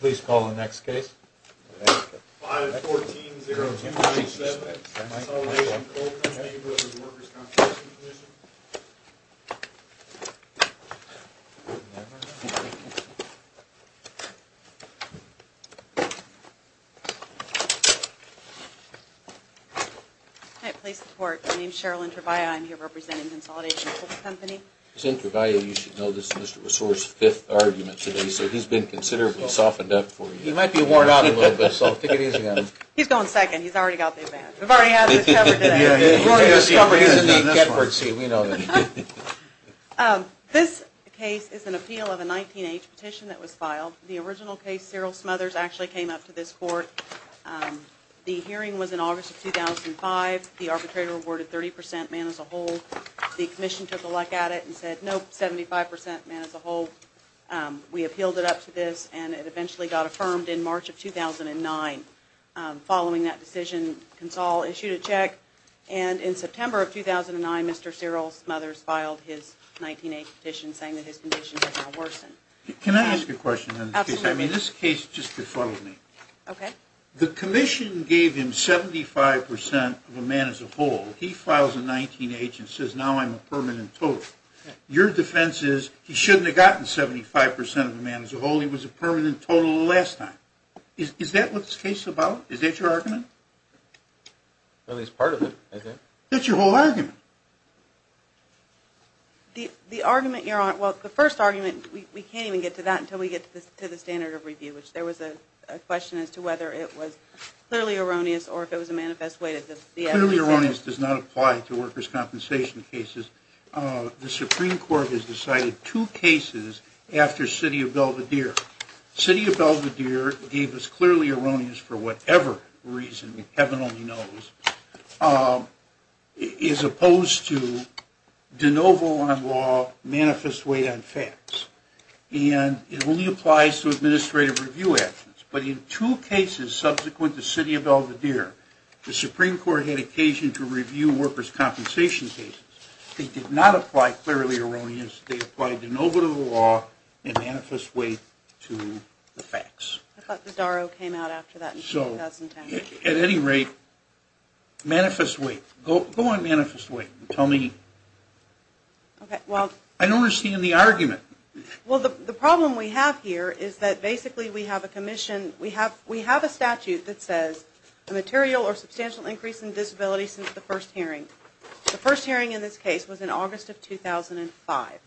Please call the next case. 5-14-0257, Consolidation Coal Co. v. Workers' Compensation Comm'n Hi, police report. My name is Sherilyn Trevaya. I'm here representing Consolidation Coal Co. Mr. Trevaya, you should know this is Mr. Resor's fifth argument today, so he's been considerably softened up for you. He might be worn out a little bit, so take it easy on him. He's going second. He's already got the advantage. We've already had this covered today. We've already discovered he's in the expert seat. We know that. This case is an appeal of a 19-H petition that was filed. The original case, Cyril Smothers, actually came up to this court. The hearing was in August of 2005. The arbitrator awarded 30% man as a whole. The commission took a look at it and said, nope, 75% man as a whole. We appealed it up to this, and it eventually got affirmed in March of 2009. Following that decision, Consol issued a check, and in September of 2009, Mr. Cyril Smothers filed his 19-H petition saying that his condition had now worsened. Can I ask a question on this case? Absolutely. This case just befuddled me. Okay. The commission gave him 75% of a man as a whole. He files a 19-H and says, now I'm a permanent total. Your defense is he shouldn't have gotten 75% of a man as a whole. He was a permanent total the last time. Is that what this case is about? Is that your argument? At least part of it, I think. That's your whole argument. The argument you're on, well, the first argument, we can't even get to that until we get to the standard of review, which there was a question as to whether it was clearly erroneous or if it was a manifest way. Clearly erroneous does not apply to workers' compensation cases. The Supreme Court has decided two cases after City of Belvedere. City of Belvedere gave us clearly erroneous for whatever reason, heaven only knows, as opposed to de novo on law, manifest way on facts. And it only applies to administrative review actions. But in two cases subsequent to City of Belvedere, the Supreme Court had occasion to review workers' compensation cases. They did not apply clearly erroneous. They applied de novo to the law and manifest way to the facts. I thought the Darrow came out after that in 2010. At any rate, manifest way. Go on manifest way and tell me. I don't understand the argument. Well, the problem we have here is that basically we have a commission, we have a statute that says a material or substantial increase in disability since the first hearing. The first hearing in this case was in August of 2005.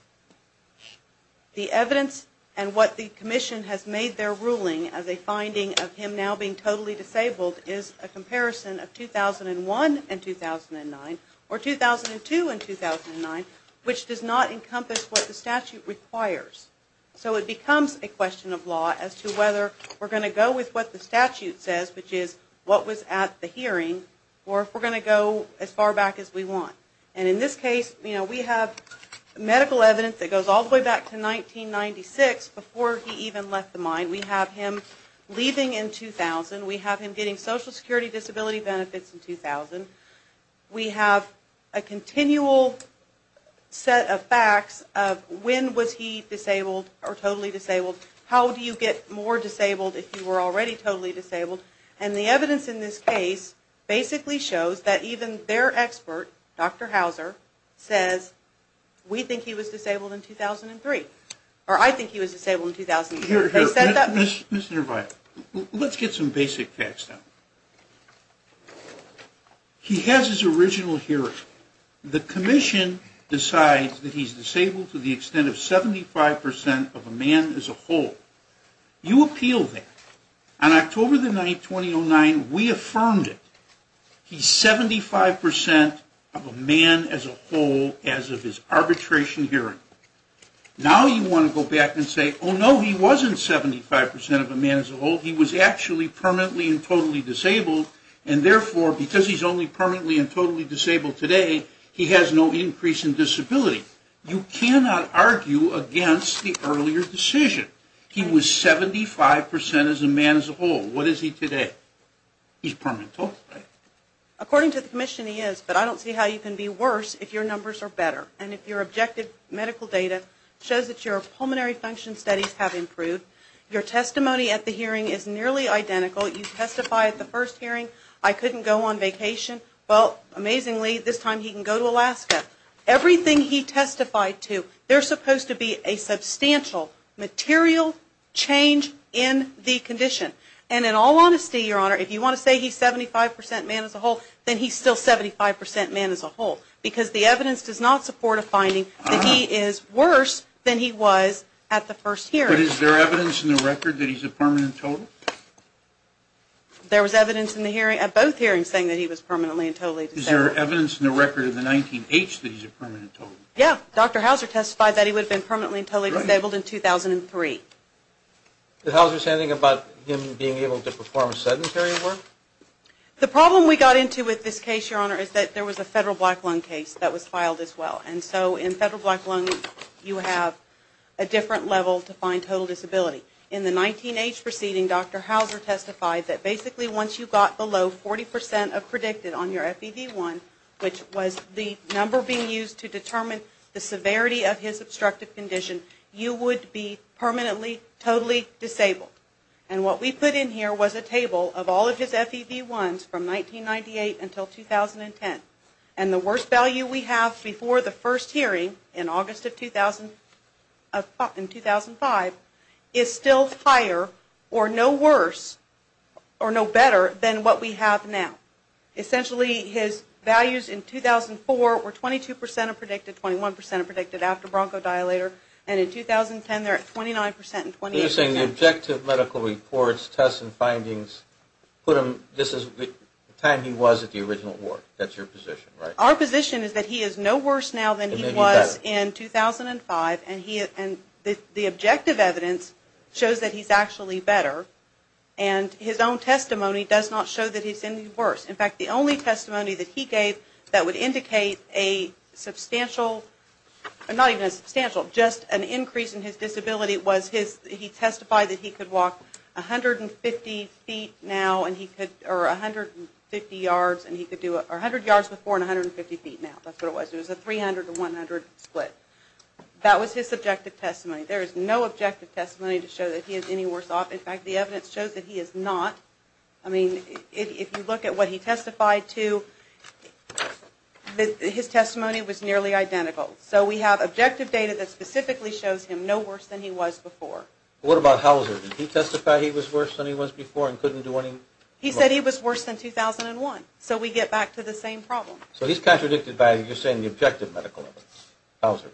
The evidence and what the commission has made their ruling as a finding of him now being totally disabled is a comparison of 2001 and 2009 or 2002 and 2009, which does not encompass what the statute requires. So it becomes a question of law as to whether we're going to go with what the statute says, which is what was at the hearing, or if we're going to go as far back as we want. And in this case, we have medical evidence that goes all the way back to 1996 before he even left the mine. We have him leaving in 2000. We have him getting Social Security disability benefits in 2000. We have a continual set of facts of when was he disabled or totally disabled, how do you get more disabled if you were already totally disabled, and the evidence in this case basically shows that even their expert, Dr. Hauser, says we think he was disabled in 2003, or I think he was disabled in 2003. Let's get some basic facts. He has his original hearing. The commission decides that he's disabled to the extent of 75% of a man as a whole. You appeal that. On October the 9th, 2009, we affirmed it. He's 75% of a man as a whole as of his arbitration hearing. Now you want to go back and say, oh, no, he wasn't 75% of a man as a whole, he was actually permanently and totally disabled, and therefore because he's only permanently and totally disabled today, he has no increase in disability. You cannot argue against the earlier decision. He was 75% as a man as a whole. What is he today? He's permanent, right? According to the commission, he is, but I don't see how you can be worse if your numbers are better, and if your objective medical data shows that your pulmonary function studies have improved. Your testimony at the hearing is nearly identical. You testified at the first hearing, I couldn't go on vacation. Well, amazingly, this time he can go to Alaska. Everything he testified to, there's supposed to be a substantial material change in the condition. And in all honesty, Your Honor, if you want to say he's 75% man as a whole, then he's still 75% man as a whole, because the evidence does not support a finding that he is worse than he was at the first hearing. But is there evidence in the record that he's a permanent total? There was evidence at both hearings saying that he was permanently and totally disabled. Is there evidence in the record of the 19-H that he's a permanent total? Yeah, Dr. Hauser testified that he would have been permanently and totally disabled in 2003. Did Hauser say anything about him being able to perform sedentary work? The problem we got into with this case, Your Honor, is that there was a federal black loan case that was filed as well. And so in federal black loan, you have a different level to find total disability. In the 19-H proceeding, Dr. Hauser testified that basically once you got below 40% of predicted on your FEV1, which was the number being used to determine the severity of his obstructive condition, you would be permanently, totally disabled. And what we put in here was a table of all of his FEV1s from 1998 until 2010. And the worst value we have before the first hearing, in August of 2005, is still higher or no worse or no better than what we have now. Essentially, his values in 2004 were 22% of predicted, 21% of predicted after bronchodilator. And in 2010, they're at 29% and 28%. So you're saying the objective medical reports, tests and findings put him, this is the time he was at the original ward. That's your position, right? Our position is that he is no worse now than he was in 2005. And the objective evidence shows that he's actually better. And his own testimony does not show that he's any worse. In fact, the only testimony that he gave that would indicate a substantial, not even a substantial, just an increase in his disability, was he testified that he could walk 150 yards before and 150 feet now. That's what it was. It was a 300 to 100 split. That was his subjective testimony. There is no objective testimony to show that he is any worse off. In fact, the evidence shows that he is not. I mean, if you look at what he testified to, his testimony was nearly identical. So we have objective data that specifically shows him no worse than he was before. What about Hauser? Did he testify he was worse than he was before and couldn't do any work? He said he was worse than 2001. So we get back to the same problem. So he's contradicted by, you're saying, the objective medical evidence, Hauser.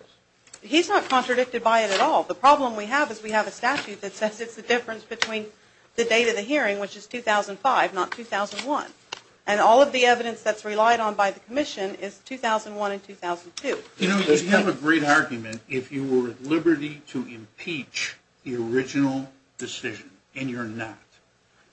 He's not contradicted by it at all. The problem we have is we have a statute that says it's the difference between the date of the hearing, which is 2005, not 2001. And all of the evidence that's relied on by the commission is 2001 and 2002. You know, you have a great argument if you were at liberty to impeach the original decision, and you're not.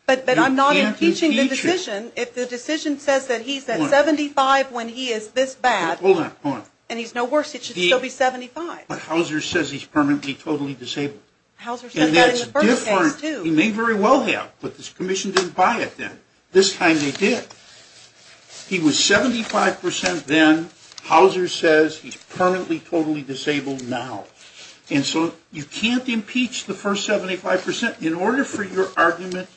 But I'm not impeaching the decision if the decision says that he's at 75 when he is this bad. Hold on, hold on. And he's no worse. He should still be 75. But Hauser says he's permanently, totally disabled. Hauser said that in the first case, too. He may very well have, but this commission didn't buy it then. This time they did. He was 75% then. Hauser says he's permanently, totally disabled now. And so you can't impeach the first 75%. In order for your argument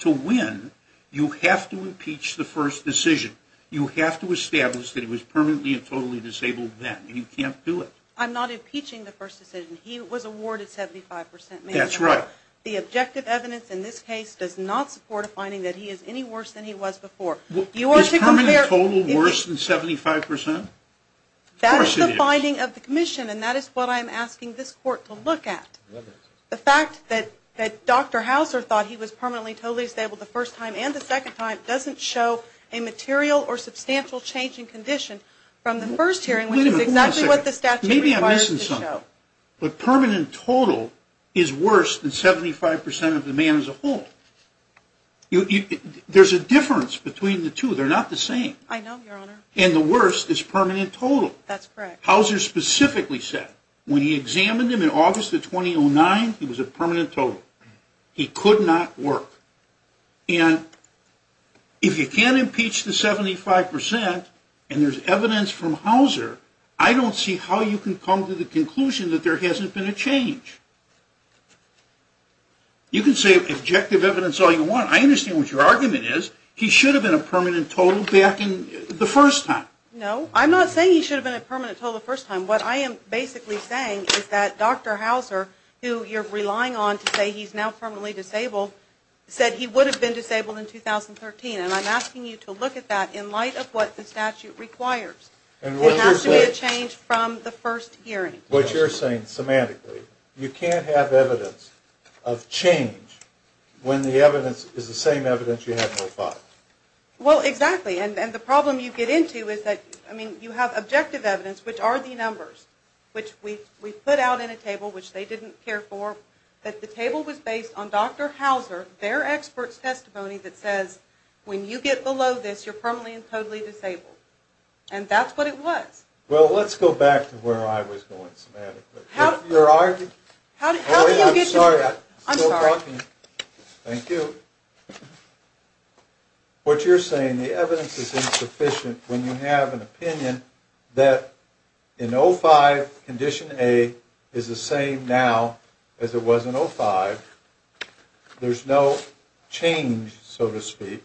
to win, you have to impeach the first decision. You have to establish that he was permanently and totally disabled then, and you can't do it. I'm not impeaching the first decision. He was awarded 75%. That's right. However, the objective evidence in this case does not support a finding that he is any worse than he was before. Is permanent total worse than 75%? Of course it is. That is the finding of the commission, and that is what I'm asking this court to look at. The fact that Dr. Hauser thought he was permanently, totally disabled the first time and the second time doesn't show a material or substantial change in condition from the first hearing, which is exactly what the statute requires to show. But permanent total is worse than 75% of the man as a whole. There's a difference between the two. They're not the same. I know, Your Honor. And the worst is permanent total. That's correct. Hauser specifically said when he examined him in August of 2009, he was a permanent total. He could not work. And if you can't impeach the 75% and there's evidence from Hauser, I don't see how you can come to the conclusion that there hasn't been a change. You can say objective evidence is all you want. I understand what your argument is. He should have been a permanent total back in the first time. No, I'm not saying he should have been a permanent total the first time. What I am basically saying is that Dr. Hauser, who you're relying on to say he's now permanently disabled, said he would have been disabled in 2013. And I'm asking you to look at that in light of what the statute requires. There has to be a change from the first hearing. What you're saying, semantically, you can't have evidence of change when the evidence is the same evidence you had before. Well, exactly. And the problem you get into is that, I mean, you have objective evidence, which are the numbers, which we put out in a table which they didn't care for, that the table was based on Dr. Hauser, their expert's testimony, that says when you get below this, you're permanently and totally disabled. And that's what it was. Well, let's go back to where I was going semantically. How do you get to that? I'm sorry. Thank you. What you're saying, the evidence is insufficient when you have an opinion that in 05, Condition A is the same now as it was in 05. There's no change, so to speak.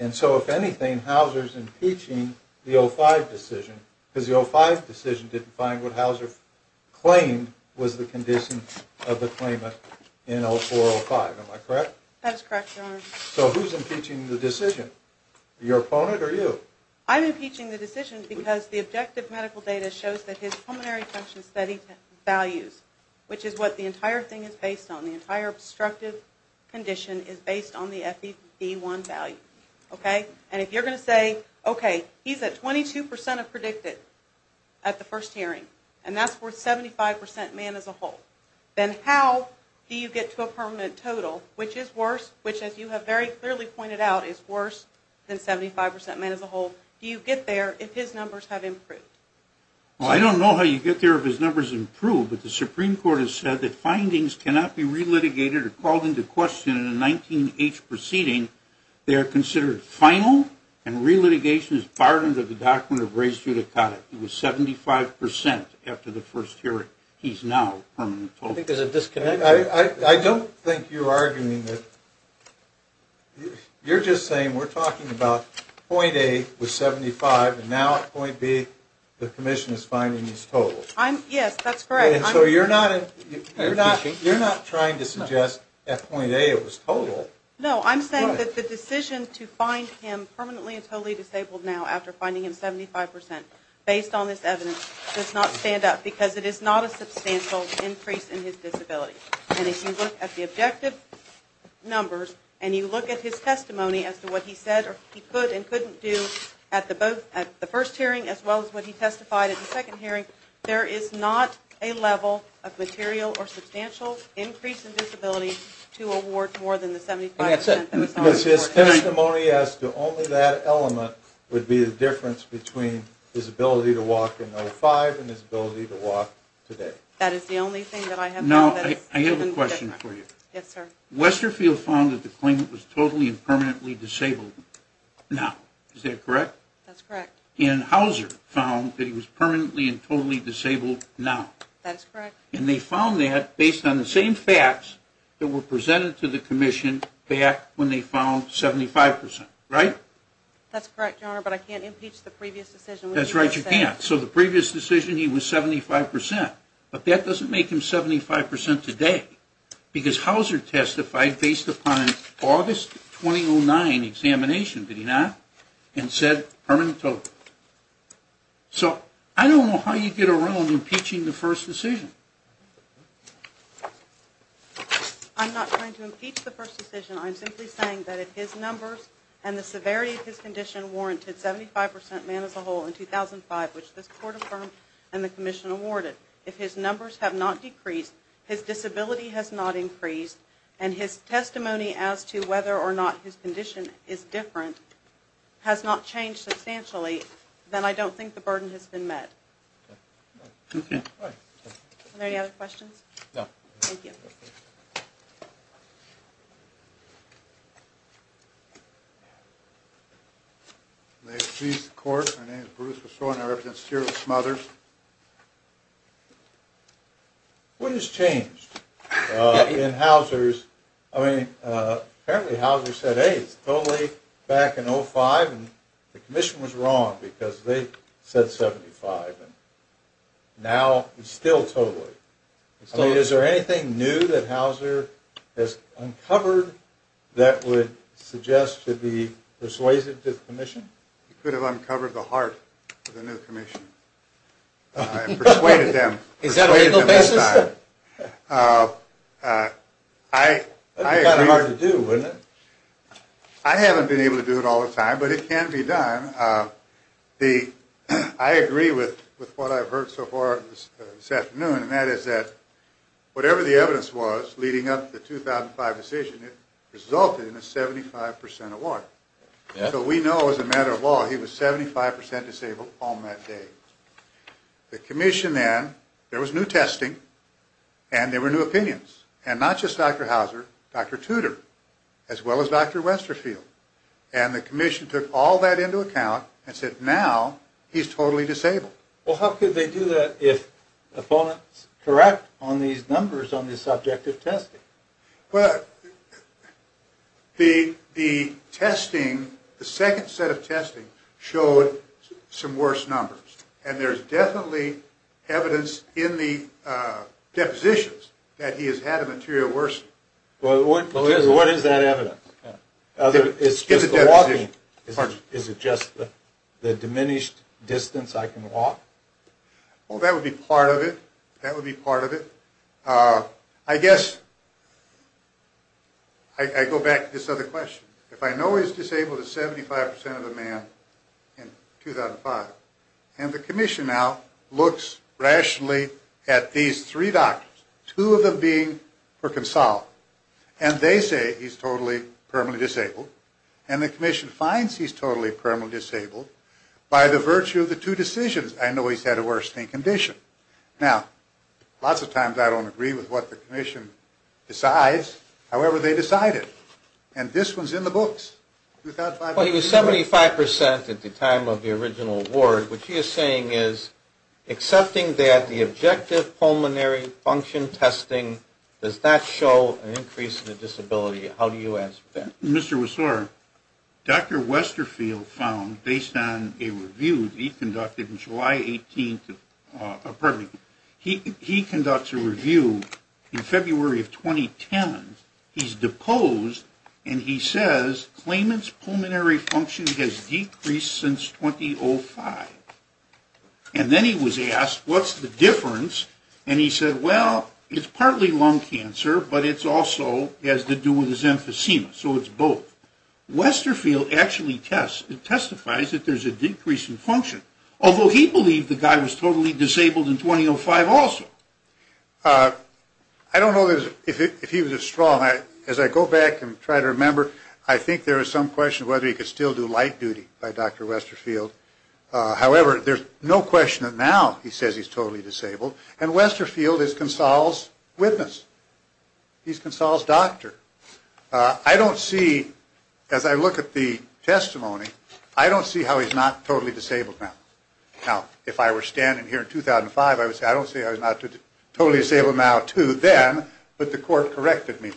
And so, if anything, Hauser's impeaching the 05 decision because the 05 decision didn't find what Hauser claimed was the condition of the claimant in 04-05. Am I correct? That is correct, Your Honor. So who's impeaching the decision? Your opponent or you? I'm impeaching the decision because the objective medical data shows that his pulmonary function study values, which is what the entire thing is based on. The entire obstructive condition is based on the FEV1 value, okay? And if you're going to say, okay, he's at 22% of predicted at the first hearing, and that's worth 75% man as a whole, then how do you get to a permanent total, which is worse, which, as you have very clearly pointed out, is worse than 75% man as a whole? Do you get there if his numbers have improved? Well, I don't know how you get there if his numbers improve, but the Supreme Court has said that findings cannot be re-litigated or called into question in a 19-H proceeding. They are considered final, and re-litigation is barred under the document of res judicata. It was 75% after the first hearing. He's now a permanent total. I think there's a disconnect here. I don't think you're arguing that. You're just saying we're talking about point A was 75, and now at point B the commission is finding he's total. Yes, that's correct. So you're not trying to suggest at point A it was total. No, I'm saying that the decision to find him permanently and totally disabled now after finding him 75% based on this evidence does not stand up because it is not a substantial increase in his disability. And if you look at the objective numbers, and you look at his testimony as to what he said or he could and couldn't do at the first hearing as well as what he testified at the second hearing, there is not a level of material or substantial increase in disability to award more than the 75%. That's it. His testimony as to only that element would be the difference between his ability to walk in 2005 and his ability to walk today. That is the only thing that I have. Now, I have a question for you. Yes, sir. Westerfield found that the claimant was totally and permanently disabled now. Is that correct? That's correct. And Hauser found that he was permanently and totally disabled now. That's correct. And they found that based on the same facts that were presented to the commission back when they found 75%, right? That's correct, Your Honor, but I can't impeach the previous decision. That's right, you can't. So the previous decision he was 75%, but that doesn't make him 75% today because Hauser testified based upon August 2009 examination, did he not, and said permanently. So I don't know how you get around impeaching the first decision. I'm not trying to impeach the first decision. I'm simply saying that if his numbers and the severity of his condition warranted 75% man as a whole in 2005, which this court affirmed and the commission awarded, if his numbers have not decreased, his disability has not increased, and his testimony as to whether or not his condition is different has not changed substantially, then I don't think the burden has been met. Are there any other questions? No. Thank you. May it please the Court, my name is Bruce LaSore and I represent the Sterling Smothers. What has changed in Hauser's, I mean apparently Hauser said, hey, it's totally back in 2005 and the commission was wrong because they said 75% and now it's still totally. I mean is there anything new that Hauser has uncovered that would suggest to be persuasive to the commission? He could have uncovered the heart of the new commission and persuaded them. Is that a legal basis? I haven't been able to do it all the time, but it can be done. I agree with what I've heard so far this afternoon and that is that whatever the evidence was leading up to the 2005 decision, it resulted in a 75% award. So we know as a matter of law he was 75% disabled on that day. The commission then, there was new testing and there were new opinions and not just Dr. Hauser, Dr. Tudor as well as Dr. Westerfield and the commission took all that into account and said now he's totally disabled. Well how could they do that if opponents correct on these numbers on the subject of testing? Well, the testing, the second set of testing showed some worse numbers and there's definitely evidence in the depositions that he has had a material worsening. What is that evidence? Is it just the walking? Is it just the diminished distance I can walk? Well that would be part of it, that would be part of it. I guess I go back to this other question. If I know he's disabled as 75% of the man in 2005 and the commission now looks rationally at these three doctors, two of them being for consult and they say he's totally permanently disabled and the commission finds he's totally permanently disabled by the virtue of the two decisions I know he's had a worsening condition. Now lots of times I don't agree with what the commission decides, however they decide it. And this one's in the books. He was 75% at the time of the original award, which he is saying is accepting that the objective pulmonary function testing does not show an increase in the disability. How do you answer that? Mr. Wessor, Dr. Westerfield found based on a review he conducted in July 18th, pardon me, he conducts a review in February of 2010. He's deposed and he says claimant's pulmonary function has decreased since 2005. And then he was asked what's the difference and he said well it's partly lung cancer but it's also has to do with his emphysema so it's both. Westerfield actually testifies that there's a decrease in function, although he believed the guy was totally disabled in 2005 also. I don't know if he was as strong. As I go back and try to remember, I think there is some question whether he could still do light duty by Dr. Westerfield. However, there's no question that now he says he's totally disabled and Westerfield is Consal's witness. He's Consal's doctor. I don't see, as I look at the testimony, I don't see how he's not totally disabled now. Now, if I were standing here in 2005, I would say I don't see how he's not totally disabled now too then, but the court corrected me.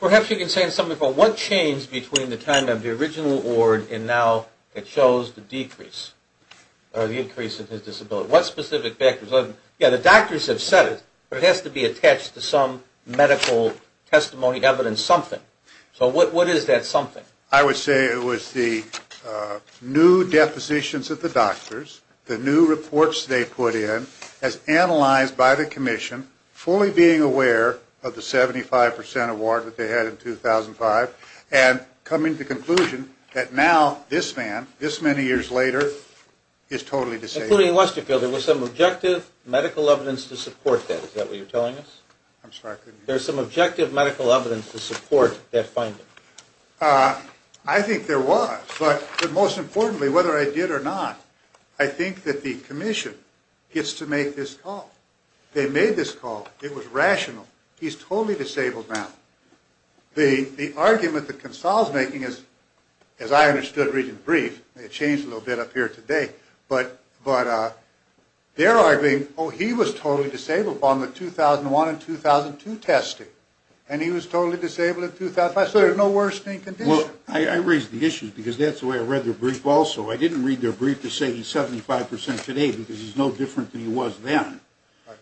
Perhaps you can say something about what changed between the time of the original award and now it shows the decrease, or the increase in his disability. What specific factors? Yeah, the doctors have said it, but it has to be attached to some medical testimony, evidence, something. So what is that something? I would say it was the new depositions of the doctors, the new reports they put in, as analyzed by the commission, fully being aware of the 75% award that they had in 2005, and coming to the conclusion that now this man, this many years later, is totally disabled. Including Westerfield, there was some objective medical evidence to support that. Is that what you're telling us? I'm sorry, could you repeat that? There's some objective medical evidence to support that finding. I think there was, but most importantly, whether I did or not, I think that the commission gets to make this call. They made this call. It was rational. He's totally disabled now. The argument that Consal's making is, as I understood reading the brief, it changed a little bit up here today, but they're arguing, oh, he was totally disabled on the 2001 and 2002 testing, and he was totally disabled in 2005, so there's no worsening condition. Well, I raised the issue because that's the way I read their brief also. I didn't read their brief to say he's 75% today because he's no different than he was then.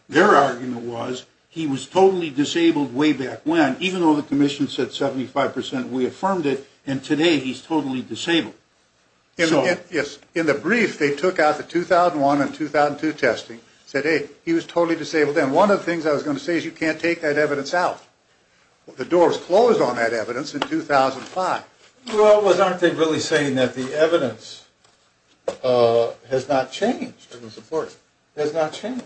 Their argument was he was totally disabled way back when, even though the commission said 75%, we affirmed it, and today he's totally disabled. Yes. In the brief, they took out the 2001 and 2002 testing, said, hey, he was totally disabled then. One of the things I was going to say is you can't take that evidence out. The door was closed on that evidence in 2005. Well, aren't they really saying that the evidence has not changed? Has not changed.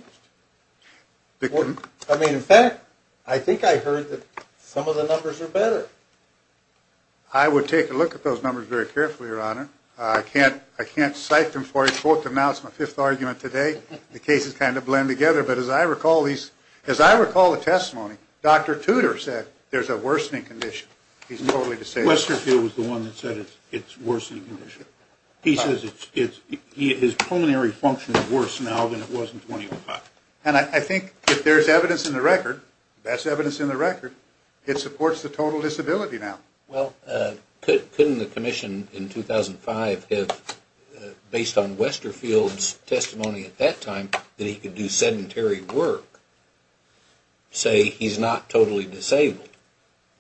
I mean, in fact, I think I heard that some of the numbers are better. I would take a look at those numbers very carefully, Your Honor. I can't cite them for you. Quote them now. It's my fifth argument today. The cases kind of blend together, but as I recall the testimony, Dr. Tudor said there's a worsening condition. He's totally disabled. Westerfield was the one that said it's a worsening condition. He says his pulmonary function is worse now than it was in 2005. And I think if there's evidence in the record, best evidence in the record, it supports the total disability now. Well, couldn't the commission in 2005 have, based on Westerfield's testimony at that time, that he could do sedentary work, say he's not totally disabled?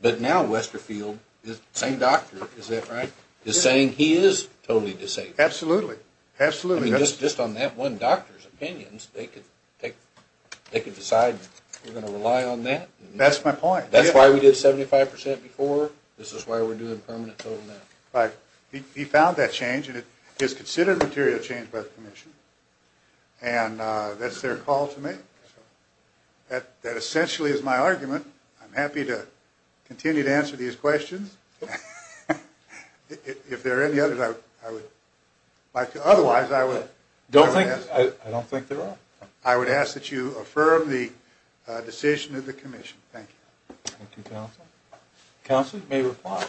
But now Westerfield, the same doctor, is that right, is saying he is totally disabled. Absolutely. Absolutely. I mean, just on that one doctor's opinions, they could decide we're going to rely on that. That's my point. That's why we did 75% before. This is why we're doing permanent total now. Right. He found that change, and it is considered a material change by the commission, and that's their call to make. That essentially is my argument. I'm happy to continue to answer these questions. If there are any others, I would like to. Otherwise, I would. I don't think there are. I would ask that you affirm the decision of the commission. Thank you. Thank you, counsel. Counsel may reply.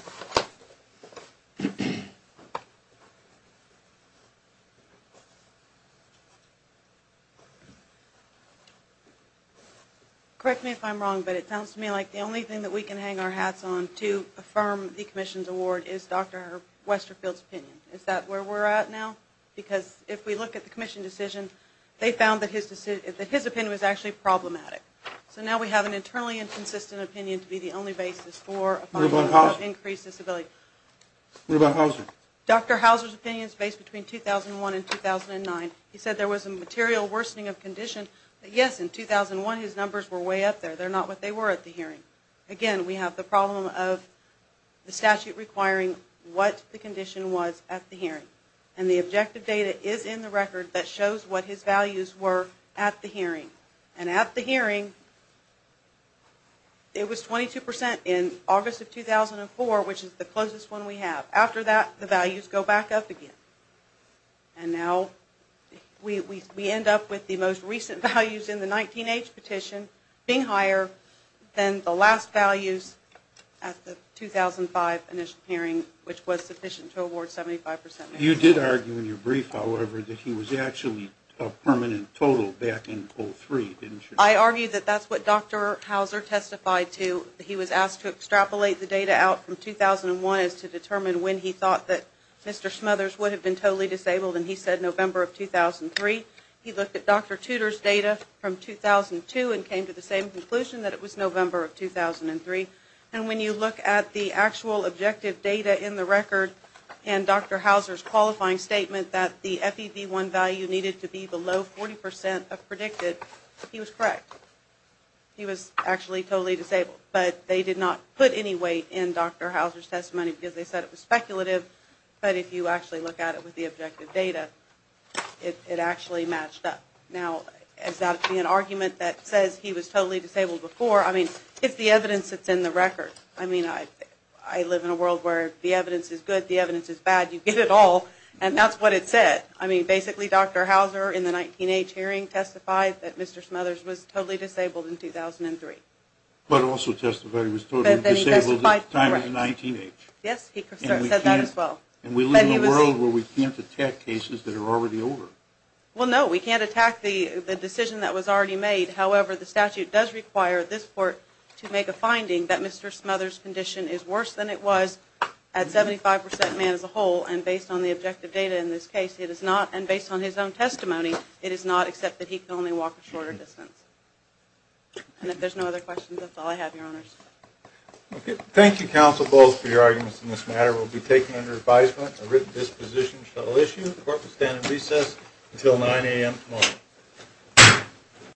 Correct me if I'm wrong, but it sounds to me like the only thing that we can hang our hats on to affirm the commission's award is Dr. Westerfield's opinion. Is that where we're at now? Because if we look at the commission decision, they found that his opinion was actually problematic. So now we have an internally inconsistent opinion to be the only basis for increasing disability. What about Hauser? Dr. Hauser's opinion is based between 2001 and 2009. He said there was a material worsening of condition. Yes, in 2001, his numbers were way up there. They're not what they were at the hearing. Again, we have the problem of the statute requiring what the condition was at the hearing. And the objective data is in the record that shows what his values were at the hearing. And at the hearing, it was 22% in August of 2004, which is the closest one we have. After that, the values go back up again. And now we end up with the most recent values in the 19-H petition being higher than the last values at the 2005 initial hearing, which was sufficient to award 75%. You did argue in your brief, however, that he was actually a permanent total back in 2003, didn't you? I argued that that's what Dr. Hauser testified to. He was asked to extrapolate the data out from 2001 as to determine when he thought that Mr. Smothers would have been totally disabled, and he said November of 2003. He looked at Dr. Tudor's data from 2002 and came to the same conclusion that it was November of 2003. And when you look at the actual objective data in the record and Dr. Hauser's qualifying statement that the FEV1 value needed to be below 40% of predicted, he was correct. He was actually totally disabled. But they did not put any weight in Dr. Hauser's testimony because they said it was speculative. But if you actually look at it with the objective data, it actually matched up. Now, is that to be an argument that says he was totally disabled before? I mean, it's the evidence that's in the record. I mean, I live in a world where the evidence is good, the evidence is bad. You get it all, and that's what it said. I mean, basically Dr. Hauser in the 19-H hearing testified that Mr. Smothers was totally disabled in 2003. But also testified he was totally disabled at the time of the 19-H. Yes, he said that as well. And we live in a world where we can't attack cases that are already over. Well, no, we can't attack the decision that was already made. However, the statute does require this court to make a finding that Mr. Smothers' condition is worse than it was at 75% man as a whole. And based on the objective data in this case, it is not. And based on his own testimony, it is not, except that he can only walk a shorter distance. And if there's no other questions, that's all I have, Your Honors. Thank you, Counsel Bowles, for your arguments in this matter. We'll be taking under advisement a written disposition shall issue. The court will stand in recess until 9 a.m. tomorrow.